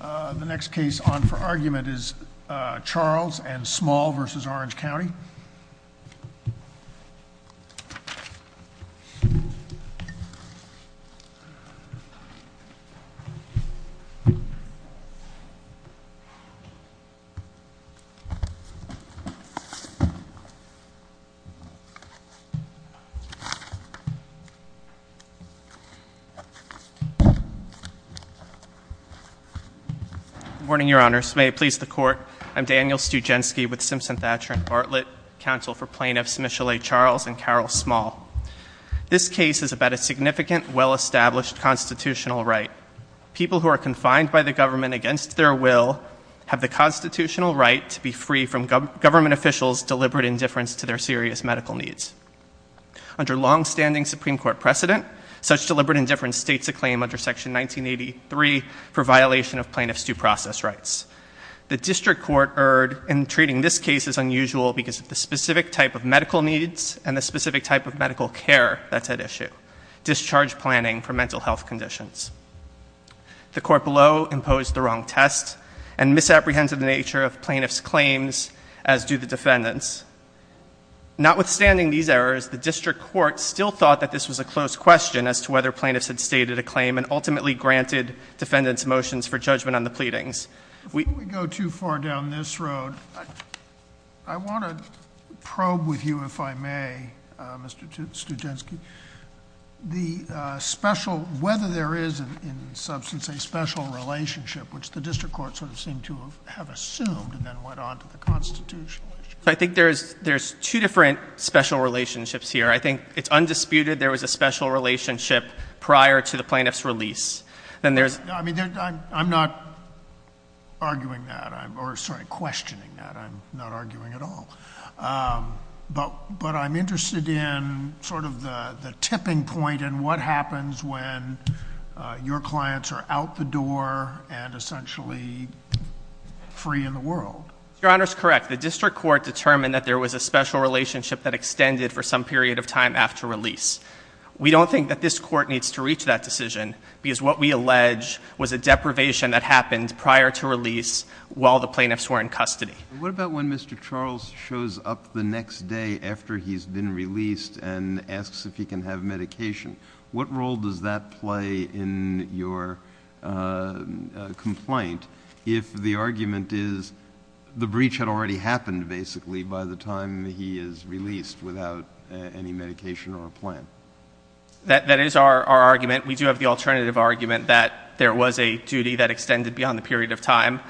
The next case on for argument is Charles and Small v. Orange County. Good morning, Your Honors. May it please the Court, I'm Daniel Stujanski with Simpson-Thatcher & Bartlett, counsel for plaintiffs Michelle A. Charles and Carol Small. This case is about a significant, well-established constitutional right. People who are confined by the government against their will have the constitutional right to be free from government officials' deliberate indifference to their serious medical needs. Under long-standing Supreme Court precedent, such deliberate indifference states a claim under Section 1983 for violation of plaintiffs' due process rights. The District Court erred in treating this case as unusual because of the specific type of medical needs and the specific type of medical care that's at issue, discharge planning for mental health conditions. The Court below imposed the wrong test and misapprehended the nature of plaintiffs' claims, as do the defendants. Notwithstanding these errors, the District Court still thought that this was a close question as to whether plaintiffs had stated a claim and ultimately granted defendants' motions for judgment on the pleadings. If we go too far down this road, I want to probe with you, if I may, Mr. Stujanski, whether there is in substance a special relationship, which the District Court sort of seemed to have assumed and then went on to the constitutional issue. I think there's two different special relationships here. I think it's undisputed there was a special relationship prior to the plaintiffs' release. I'm not arguing that, or sorry, questioning that. I'm not arguing at all. But I'm interested in sort of the tipping point and what happens when your clients are out the door and essentially free in the world. Your Honor is correct. The District Court determined that there was a special relationship that extended for some period of time after release. We don't think that this Court needs to reach that decision because what we allege was a deprivation that happened prior to release while the plaintiffs were in custody. What about when Mr. Charles shows up the next day after he's been released and asks if he can have medication? What role does that play in your complaint if the argument is the breach had already happened, basically, by the time he is released without any medication or a plan? That is our argument. We do have the alternative argument that there was a duty that extended beyond the period of time.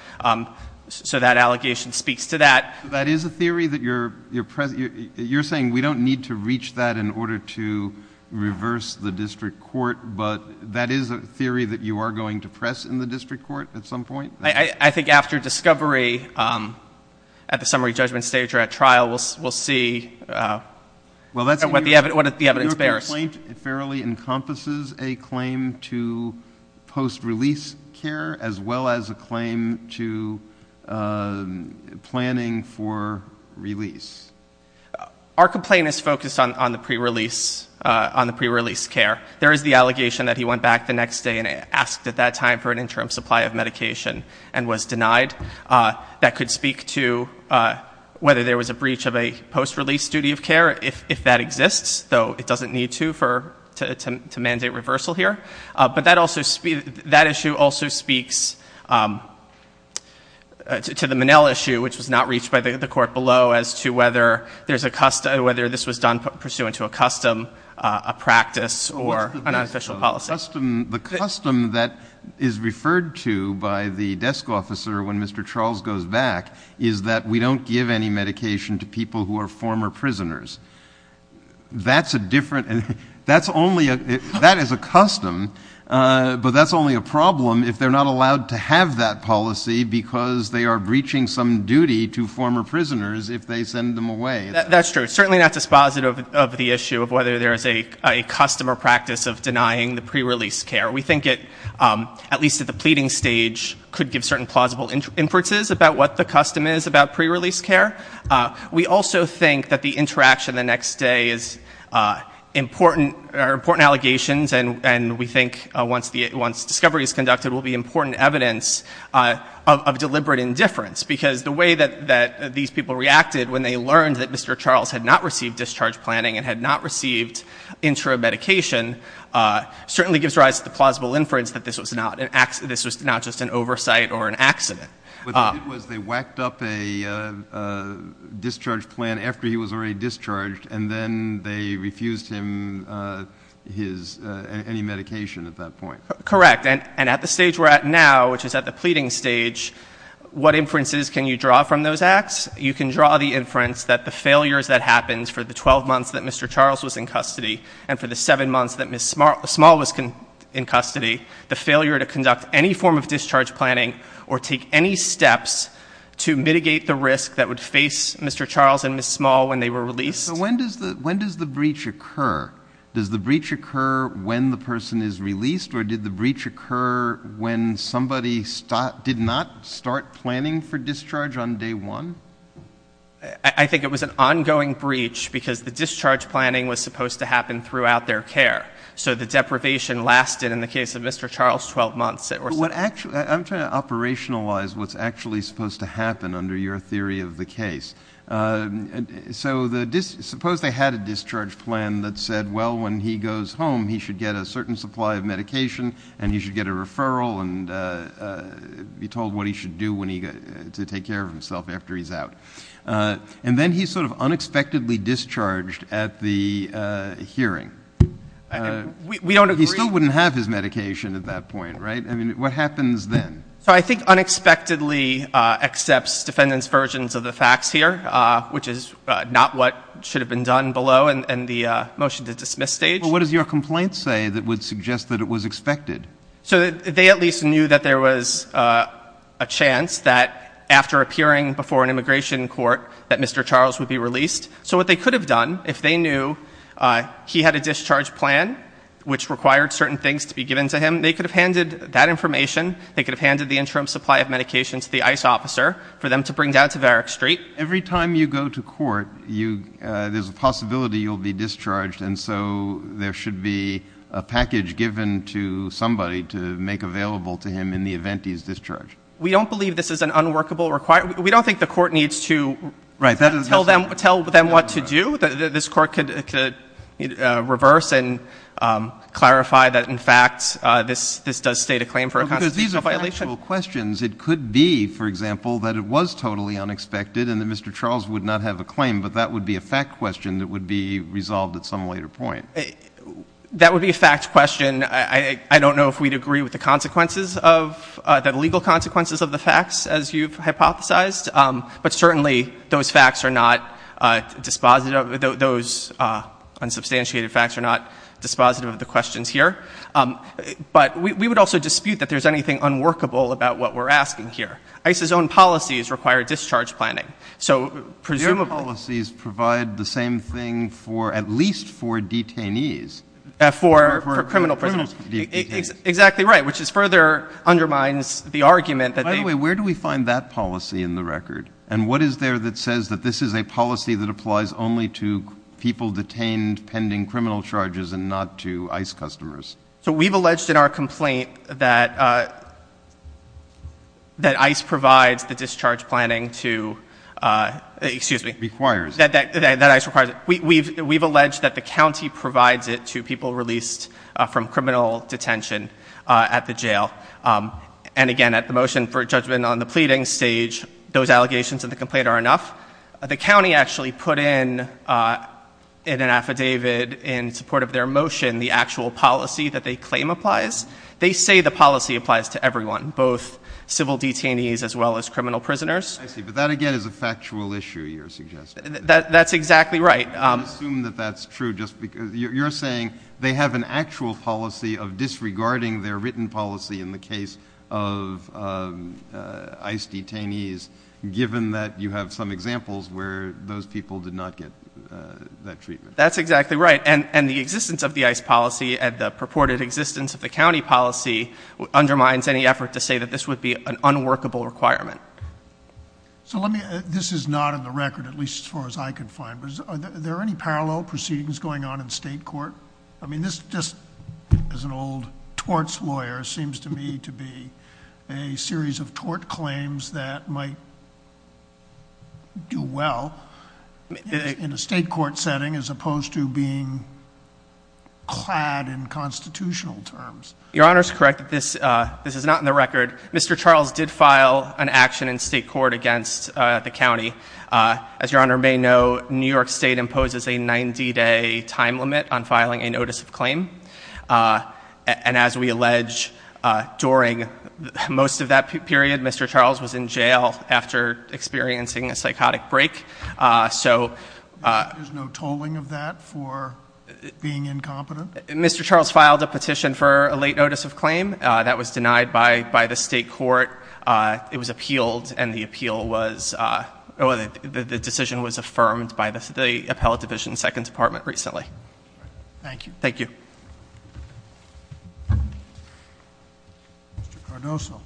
So that allegation speaks to that. That is a theory that you're saying we don't need to reach that in order to reverse the District Court, but that is a theory that you are going to press in the District Court at some point? I think after discovery at the summary judgment stage or at trial, we'll see what the evidence bears. Your complaint fairly encompasses a claim to post-release care as well as a claim to planning for release. Our complaint is focused on the pre-release care. There is the allegation that he went back the next day and asked at that time for an interim supply of medication and was denied. That could speak to whether there was a breach of a post-release duty of care, if that exists, though it doesn't need to mandate reversal here. But that issue also speaks to the Monell issue, which was not reached by the court below, as to whether this was done pursuant to a custom, a practice, or an official policy. The custom that is referred to by the desk officer when Mr. Charles goes back is that we don't give any medication to people who are former prisoners. That is a custom, but that's only a problem if they're not allowed to have that policy because they are breaching some duty to former prisoners if they send them away. That's true, certainly not dispositive of the issue of whether there is a custom or practice of denying the pre-release care. We think it, at least at the pleading stage, could give certain plausible inferences about what the custom is about pre-release care. We also think that the interaction the next day are important allegations, and we think once discovery is conducted will be important evidence of deliberate indifference because the way that these people reacted when they learned that Mr. Charles had not received discharge planning and had not received interim medication certainly gives rise to the plausible inference that this was not just an oversight or an accident. What they did was they whacked up a discharge plan after he was already discharged, and then they refused him any medication at that point. Correct, and at the stage we're at now, which is at the pleading stage, what inferences can you draw from those acts? You can draw the inference that the failures that happened for the 12 months that Mr. Charles was in custody and for the 7 months that Ms. Small was in custody, the failure to conduct any form of discharge planning or take any steps to mitigate the risk that would face Mr. Charles and Ms. Small when they were released. So when does the breach occur? Does the breach occur when the person is released, or did the breach occur when somebody did not start planning for discharge on day one? I think it was an ongoing breach because the discharge planning was supposed to happen throughout their care, so the deprivation lasted in the case of Mr. Charles' 12 months. I'm trying to operationalize what's actually supposed to happen under your theory of the case. So suppose they had a discharge plan that said, well, when he goes home, he should get a certain supply of medication and he should get a referral and be told what he should do to take care of himself after he's out. And then he's sort of unexpectedly discharged at the hearing. We don't agree. He still wouldn't have his medication at that point, right? I mean, what happens then? So I think unexpectedly accepts defendants' versions of the facts here, which is not what should have been done below in the motion to dismiss stage. Well, what does your complaint say that would suggest that it was expected? So they at least knew that there was a chance that after appearing before an immigration court, that Mr. Charles would be released. So what they could have done if they knew he had a discharge plan, which required certain things to be given to him, they could have handed that information, they could have handed the interim supply of medication to the ICE officer for them to bring down to Varick Street. Every time you go to court, there's a possibility you'll be discharged, and so there should be a package given to somebody to make available to him in the event he's discharged. We don't believe this is an unworkable requirement. We don't think the court needs to tell them what to do. This Court could reverse and clarify that, in fact, this does state a claim for a constitutional violation. Because these are factual questions. It could be, for example, that it was totally unexpected and that Mr. Charles would not have a claim, but that would be a fact question that would be resolved at some later point. That would be a fact question. I don't know if we'd agree with the consequences of the legal consequences of the facts, as you've hypothesized, but certainly those facts are not dispositive, those unsubstantiated facts are not dispositive of the questions here. But we would also dispute that there's anything unworkable about what we're asking here. ICE's own policies require discharge planning. So presumably — Your policies provide the same thing for at least four detainees. For criminal prisoners. For criminal detainees. Exactly right, which further undermines the argument that they — And what is there that says that this is a policy that applies only to people detained pending criminal charges and not to ICE customers? So we've alleged in our complaint that ICE provides the discharge planning to — excuse me. Requires. That ICE requires it. We've alleged that the county provides it to people released from criminal detention at the jail. And, again, at the motion for judgment on the pleading stage, those allegations in the complaint are enough. The county actually put in an affidavit in support of their motion the actual policy that they claim applies. They say the policy applies to everyone, both civil detainees as well as criminal prisoners. I see. But that, again, is a factual issue you're suggesting. That's exactly right. I assume that that's true just because you're saying they have an actual policy of disregarding their written policy in the case of ICE detainees, given that you have some examples where those people did not get that treatment. That's exactly right. And the existence of the ICE policy and the purported existence of the county policy undermines any effort to say that this would be an unworkable requirement. So this is not in the record, at least as far as I can find. But are there any parallel proceedings going on in state court? I mean, this just, as an old torts lawyer, seems to me to be a series of tort claims that might do well in a state court setting, as opposed to being clad in constitutional terms. Your Honor is correct. This is not in the record. Mr. Charles did file an action in state court against the county. As Your Honor may know, New York State imposes a 90-day time limit on filing a notice of claim. And as we allege, during most of that period, Mr. Charles was in jail after experiencing a psychotic break. There's no tolling of that for being incompetent? Mr. Charles filed a petition for a late notice of claim. That was denied by the state court. It was appealed, and the decision was affirmed by the Appellate Division Second Department recently. Thank you. Thank you. Mr. Cardozo.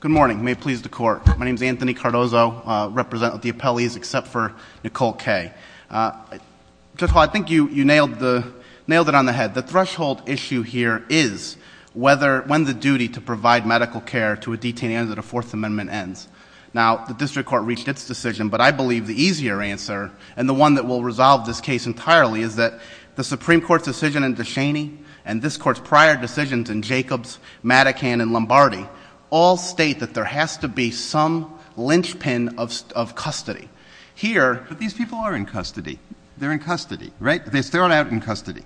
Good morning. May it please the Court. My name is Anthony Cardozo. I represent the appellees except for Nicole Kaye. Judge Hall, I think you nailed it on the head. The threshold issue here is when the duty to provide medical care to a detainee under the Fourth Amendment ends. Now, the district court reached its decision, but I believe the easier answer, and the one that will resolve this case entirely, is that the Supreme Court's decision in De Cheney and this Court's prior decisions in Jacobs, Matican, and Lombardi all state that there has to be some lynchpin of custody. Here, these people are in custody. They're in custody, right? They're thrown out in custody,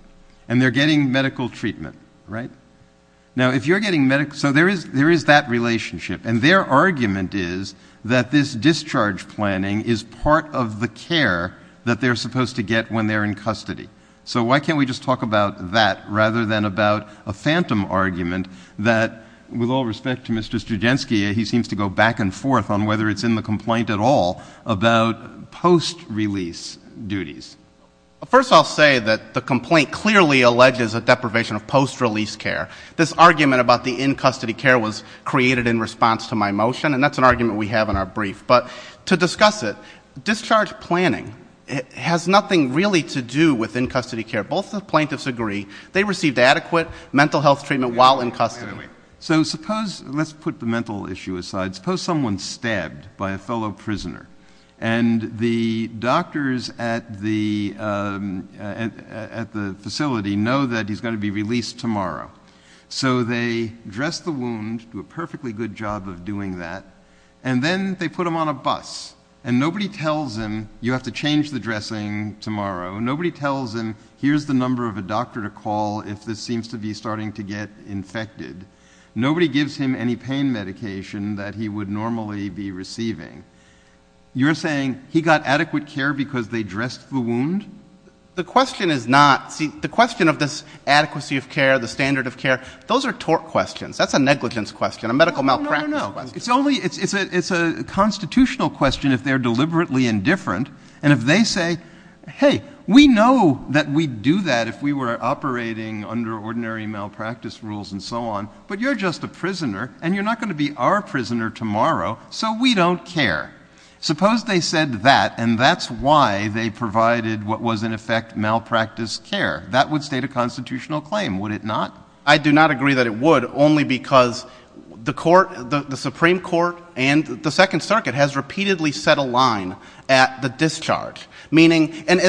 and they're getting medical treatment, right? Now, if you're getting medical care, so there is that relationship, and their argument is that this discharge planning is part of the care that they're supposed to get when they're in custody. So why can't we just talk about that rather than about a phantom argument that, with all respect to Mr. Studzinski, he seems to go back and forth on whether it's in the complaint at all about post-release duties. First, I'll say that the complaint clearly alleges a deprivation of post-release care. This argument about the in-custody care was created in response to my motion, and that's an argument we have in our brief. But to discuss it, discharge planning has nothing really to do with in-custody care. Both the plaintiffs agree they received adequate mental health treatment while in custody. So suppose, let's put the mental issue aside. Suppose someone's stabbed by a fellow prisoner, and the doctors at the facility know that he's going to be released tomorrow. So they dress the wound, do a perfectly good job of doing that, and then they put him on a bus, and nobody tells him, you have to change the dressing tomorrow. Nobody tells him, here's the number of a doctor to call if this seems to be starting to get infected. Nobody gives him any pain medication that he would normally be receiving. You're saying he got adequate care because they dressed the wound? The question is not, see, the question of this adequacy of care, the standard of care, those are tort questions. That's a negligence question, a medical malpractice question. No, no, no. It's a constitutional question if they're deliberately indifferent, and if they say, hey, we know that we'd do that if we were operating under ordinary malpractice rules and so on, but you're just a prisoner, and you're not going to be our prisoner tomorrow, so we don't care. Suppose they said that, and that's why they provided what was, in effect, malpractice care. That would state a constitutional claim, would it not? I do not agree that it would, only because the Supreme Court and the Second Circuit has repeatedly set a line at the discharge, meaning, and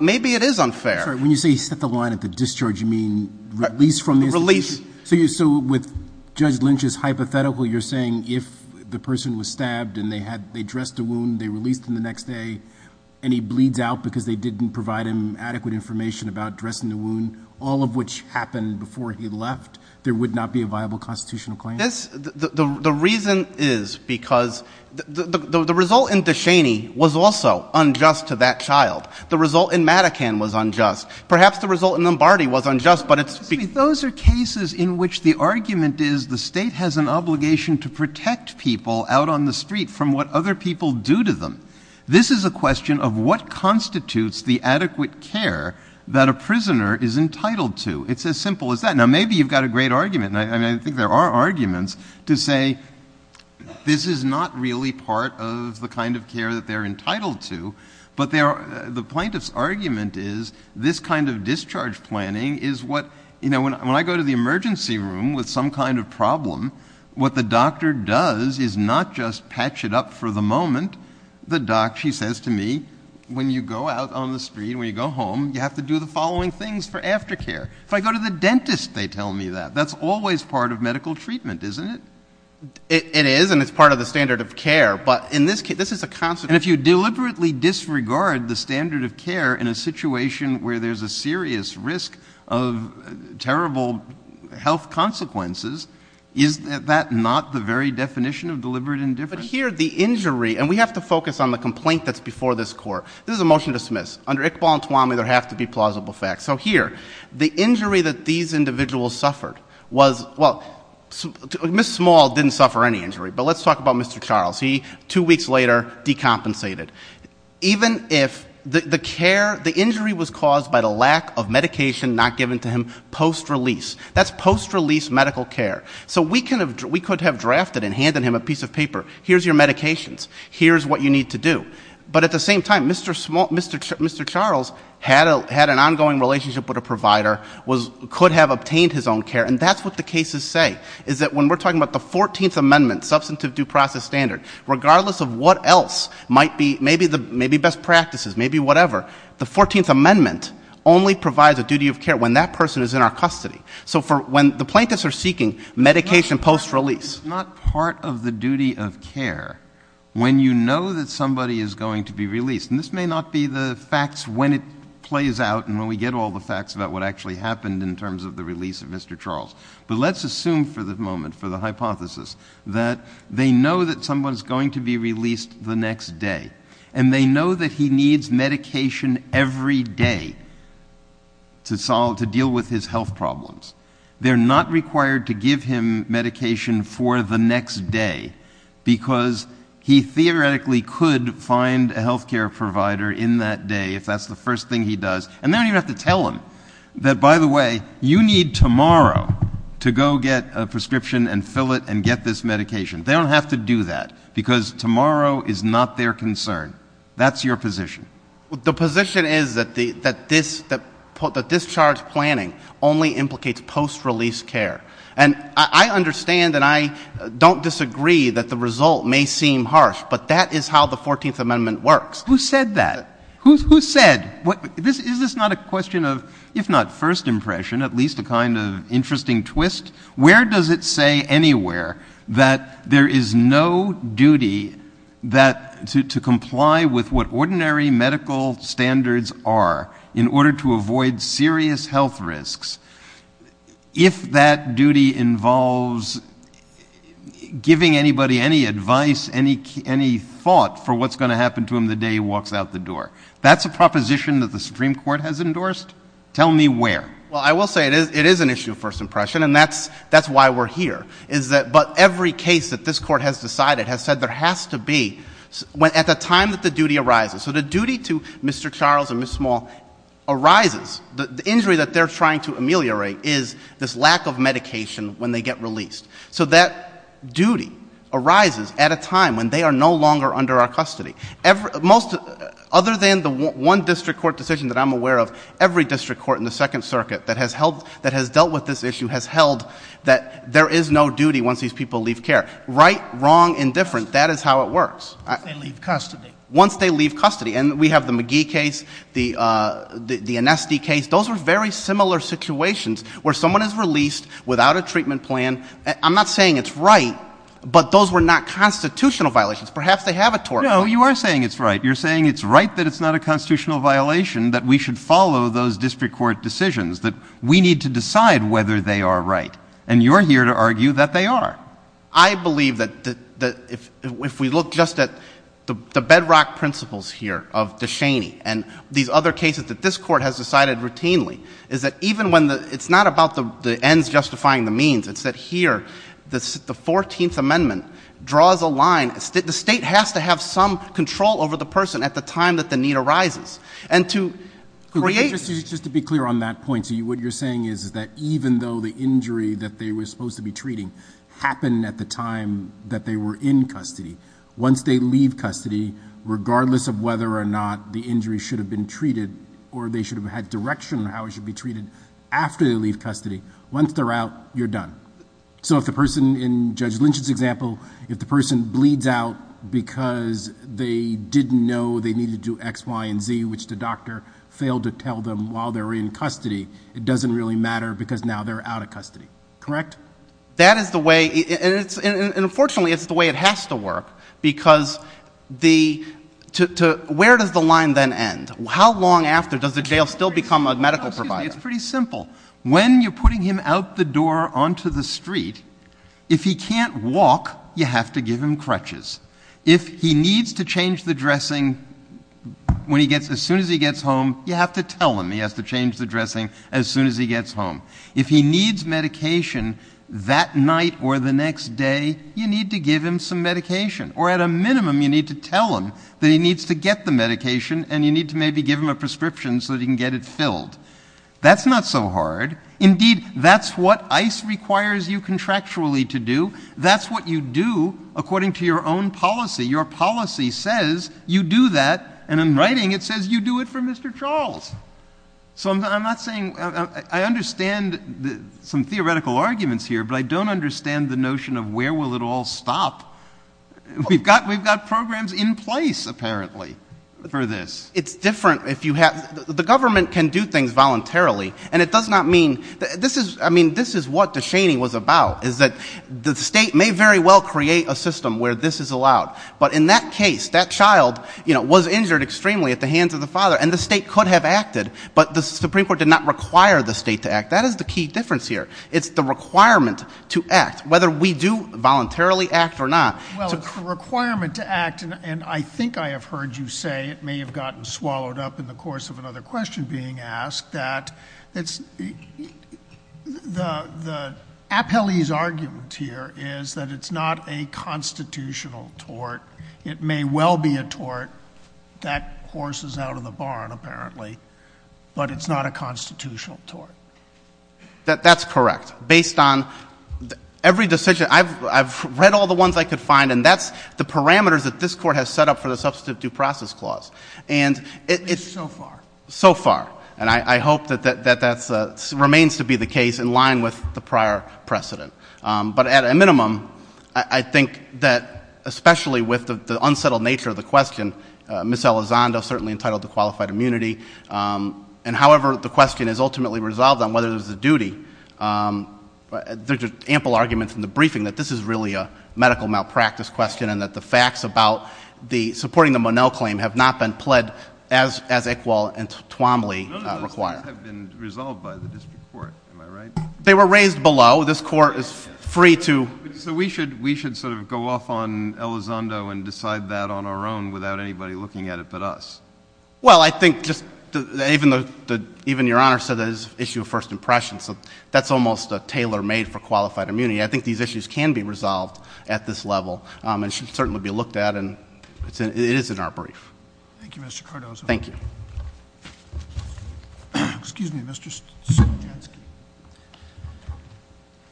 maybe it is unfair. When you say set the line at the discharge, you mean release from the institution? Release. So with Judge Lynch's hypothetical, you're saying if the person was stabbed and they dressed the wound, they released him the next day, and he bleeds out because they didn't provide him adequate information about dressing the wound, all of which happened before he left, there would not be a viable constitutional claim? The reason is because the result in Descheny was also unjust to that child. The result in Madacan was unjust. Perhaps the result in Lombardi was unjust, but it's— Those are cases in which the argument is the State has an obligation to protect people out on the street from what other people do to them. This is a question of what constitutes the adequate care that a prisoner is entitled to. It's as simple as that. Now, maybe you've got a great argument, and I think there are arguments to say this is not really part of the kind of care that they're entitled to, but the plaintiff's argument is this kind of discharge planning is what— When you go out on the street, when you go home, you have to do the following things for aftercare. If I go to the dentist, they tell me that. That's always part of medical treatment, isn't it? It is, and it's part of the standard of care, but in this case, this is a— And if you deliberately disregard the standard of care in a situation where there's a serious risk of terrible health consequences, is that not the very definition of deliberate indifference? But here, the injury—and we have to focus on the complaint that's before this Court. This is a motion to dismiss. Under Iqbal and Tuami, there have to be plausible facts. So here, the injury that these individuals suffered was— Well, Ms. Small didn't suffer any injury, but let's talk about Mr. Charles. He, two weeks later, decompensated. Even if the care—the injury was caused by the lack of medication not given to him post-release. That's post-release medical care. So we could have drafted and handed him a piece of paper. Here's your medications. Here's what you need to do. But at the same time, Mr. Charles had an ongoing relationship with a provider, could have obtained his own care, and that's what the cases say, is that when we're talking about the 14th Amendment, substantive due process standard, regardless of what else might be, maybe best practices, maybe whatever, the 14th Amendment only provides a duty of care when that person is in our custody. So when the plaintiffs are seeking medication post-release— It's not part of the duty of care when you know that somebody is going to be released. And this may not be the facts when it plays out and when we get all the facts about what actually happened in terms of the release of Mr. Charles. But let's assume for the moment, for the hypothesis, that they know that someone is going to be released the next day, and they know that he needs medication every day to deal with his health problems. They're not required to give him medication for the next day because he theoretically could find a health care provider in that day if that's the first thing he does. And they don't even have to tell him that, by the way, you need tomorrow to go get a prescription and fill it and get this medication. They don't have to do that because tomorrow is not their concern. That's your position. The position is that discharge planning only implicates post-release care. And I understand and I don't disagree that the result may seem harsh, but that is how the 14th Amendment works. Who said that? Who said? Is this not a question of, if not first impression, at least a kind of interesting twist? Where does it say anywhere that there is no duty to comply with what ordinary medical standards are in order to avoid serious health risks if that duty involves giving anybody any advice, any thought for what's going to happen to him the day he walks out the door? That's a proposition that the Supreme Court has endorsed? Tell me where. Well, I will say it is an issue of first impression, and that's why we're here. But every case that this Court has decided has said there has to be at the time that the duty arises. So the duty to Mr. Charles and Ms. Small arises. The injury that they're trying to ameliorate is this lack of medication when they get released. So that duty arises at a time when they are no longer under our custody. Other than the one district court decision that I'm aware of, every district court in the Second Circuit that has dealt with this issue has held that there is no duty once these people leave care. Right, wrong, indifferent, that is how it works. Once they leave custody. Once they leave custody. And we have the McGee case, the Anesty case. Those were very similar situations where someone is released without a treatment plan. I'm not saying it's right, but those were not constitutional violations. Perhaps they have a tort law. No, you are saying it's right. You're saying it's right that it's not a constitutional violation, that we should follow those district court decisions, that we need to decide whether they are right. And you're here to argue that they are. I believe that if we look just at the bedrock principles here of DeShaney and these other cases that this Court has decided routinely, is that even when it's not about the ends justifying the means, it's that here the 14th Amendment draws a line. The state has to have some control over the person at the time that the need arises. And to create... Just to be clear on that point, what you're saying is that even though the injury that they were supposed to be treating happened at the time that they were in custody, once they leave custody, regardless of whether or not the injury should have been treated or they should have had direction on how it should be treated after they leave custody, once they're out, you're done. So if the person in Judge Lynch's example, if the person bleeds out because they didn't know they needed to do X, Y, and Z, which the doctor failed to tell them while they were in custody, it doesn't really matter because now they're out of custody. Correct? That is the way... And unfortunately it's the way it has to work because the... Where does the line then end? How long after does the jail still become a medical provider? It's pretty simple. When you're putting him out the door onto the street, if he can't walk, you have to give him crutches. If he needs to change the dressing as soon as he gets home, you have to tell him he has to change the dressing as soon as he gets home. If he needs medication that night or the next day, you need to give him some medication, or at a minimum you need to tell him that he needs to get the medication and you need to maybe give him a prescription so that he can get it filled. That's not so hard. Indeed, that's what ICE requires you contractually to do. That's what you do according to your own policy. Your policy says you do that, and in writing it says you do it for Mr. Charles. So I'm not saying... I understand some theoretical arguments here, but I don't understand the notion of where will it all stop. We've got programs in place, apparently, for this. It's different if you have... The government can do things voluntarily, and it does not mean... I mean, this is what DeShaney was about, is that the state may very well create a system where this is allowed, but in that case, that child was injured extremely at the hands of the father and the state could have acted, but the Supreme Court did not require the state to act. That is the key difference here. It's the requirement to act, whether we do voluntarily act or not. Well, it's a requirement to act, and I think I have heard you say, it may have gotten swallowed up in the course of another question being asked, that the appellee's argument here is that it's not a constitutional tort. It may well be a tort. That horse is out of the barn, apparently, but it's not a constitutional tort. That's correct. I've read all the ones I could find, and that's the parameters that this Court has set up for the Substantive Due Process Clause. It's so far. So far. And I hope that that remains to be the case in line with the prior precedent. But at a minimum, I think that, especially with the unsettled nature of the question, Ms. Elizondo is certainly entitled to qualified immunity, and however the question is ultimately resolved on whether there's a duty, there's ample argument in the briefing that this is really a medical malpractice question and that the facts about supporting the Monell claim have not been pled as Iqbal and Twomley require. No, no, those things have been resolved by the district court. Am I right? They were raised below. This Court is free to. So we should sort of go off on Elizondo and decide that on our own without anybody looking at it but us. Well, I think just even Your Honor said that it's an issue of first impression, so that's almost a tailor made for qualified immunity. I think these issues can be resolved at this level, and should certainly be looked at, and it is in our brief. Thank you, Mr. Cardozo. Thank you. Excuse me, Mr. Stankiewicz.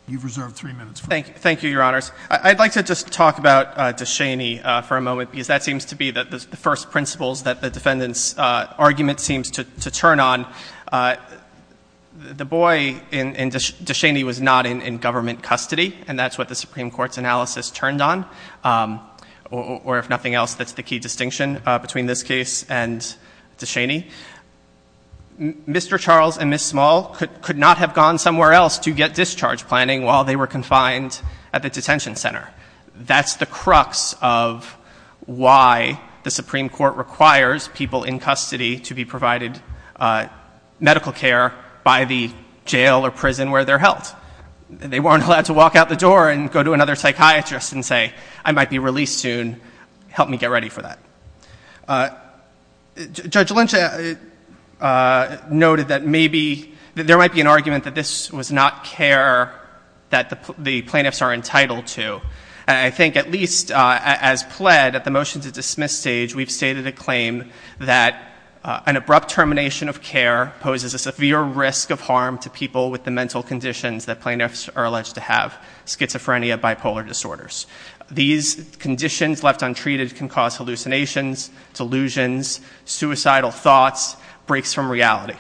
You've reserved three minutes. Thank you, Your Honors. I'd like to just talk about Descheny for a moment, because that seems to be the first principles that the defendant's argument seems to turn on. The boy in Descheny was not in government custody, and that's what the Supreme Court's analysis turned on, or if nothing else, that's the key distinction between this case and Descheny. Mr. Charles and Ms. Small could not have gone somewhere else to get discharge planning while they were confined at the detention center. That's the crux of why the Supreme Court requires people in custody to be provided medical care by the jail or prison where they're held. They weren't allowed to walk out the door and go to another psychiatrist and say, I might be released soon, help me get ready for that. Judge Lynch noted that maybe there might be an argument that this was not care that the plaintiffs are entitled to. I think at least as pled at the motion to dismiss stage, we've stated a claim that an abrupt termination of care poses a severe risk of harm to people with the mental conditions that plaintiffs are alleged to have, schizophrenia, bipolar disorders. These conditions left untreated can cause hallucinations, delusions, suicidal thoughts, breaks from reality.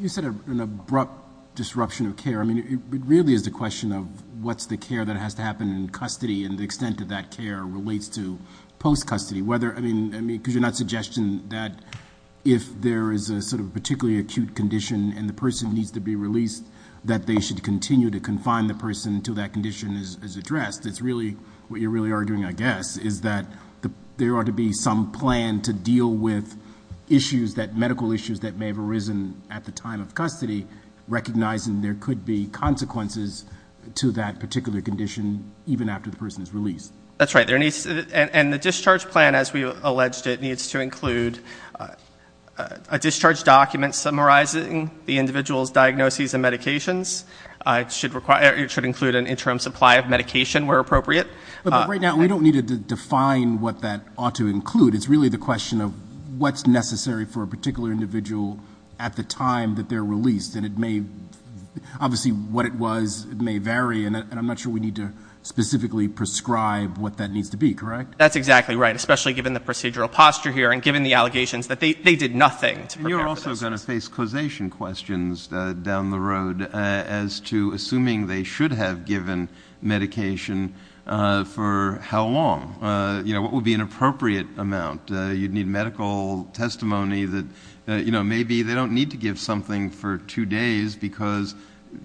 You said an abrupt disruption of care. I mean, it really is a question of what's the care that has to happen in custody and the extent of that care relates to post-custody. I mean, because you're not suggesting that if there is a sort of particularly acute condition and the person needs to be released that they should continue to confine the person until that condition is addressed. It's really what you're really arguing, I guess, is that there ought to be some plan to deal with medical issues that may have arisen at the time of custody, recognizing there could be consequences to that particular condition even after the person is released. That's right. And the discharge plan, as we alleged it, needs to include a discharge document summarizing the individual's diagnoses and medications. It should include an interim supply of medication where appropriate. But right now, we don't need to define what that ought to include. It's really the question of what's necessary for a particular individual at the time that they're released. And it may, obviously what it was, it may vary, and I'm not sure we need to specifically prescribe what that needs to be, correct? That's exactly right, especially given the procedural posture here and given the allegations that they did nothing to prepare for this. And you're also going to face causation questions down the road as to assuming they should have given medication for how long. You know, what would be an appropriate amount? You'd need medical testimony that, you know, maybe they don't need to give something for two days because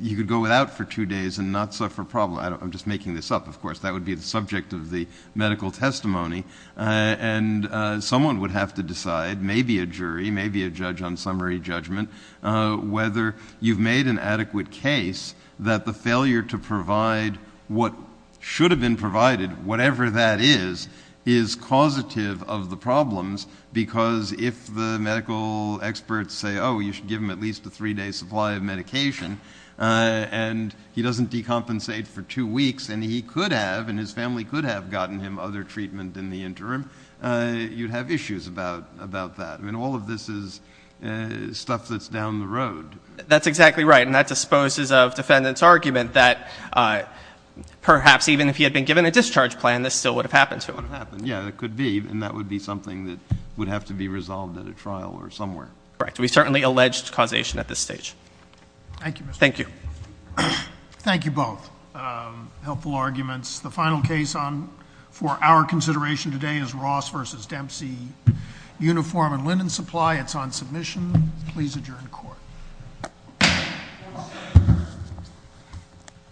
you could go without for two days and not suffer problems. I'm just making this up, of course. That would be the subject of the medical testimony. And someone would have to decide, maybe a jury, maybe a judge on summary judgment, whether you've made an adequate case that the failure to provide what should have been provided, whatever that is, is causative of the problems because if the medical experts say, oh, you should give him at least a three-day supply of medication and he doesn't decompensate for two weeks and he could have and his family could have gotten him other treatment in the interim, you'd have issues about that. I mean, all of this is stuff that's down the road. That's exactly right. And that disposes of defendant's argument that perhaps even if he had been given a discharge plan, this still would have happened to him. Yeah, it could be. And that would be something that would have to be resolved at a trial or somewhere. Correct. We certainly allege causation at this stage. Thank you. Thank you. Thank you both. Helpful arguments. The final case for our consideration today is Ross v. Dempsey, uniform and linen supply. It's on submission.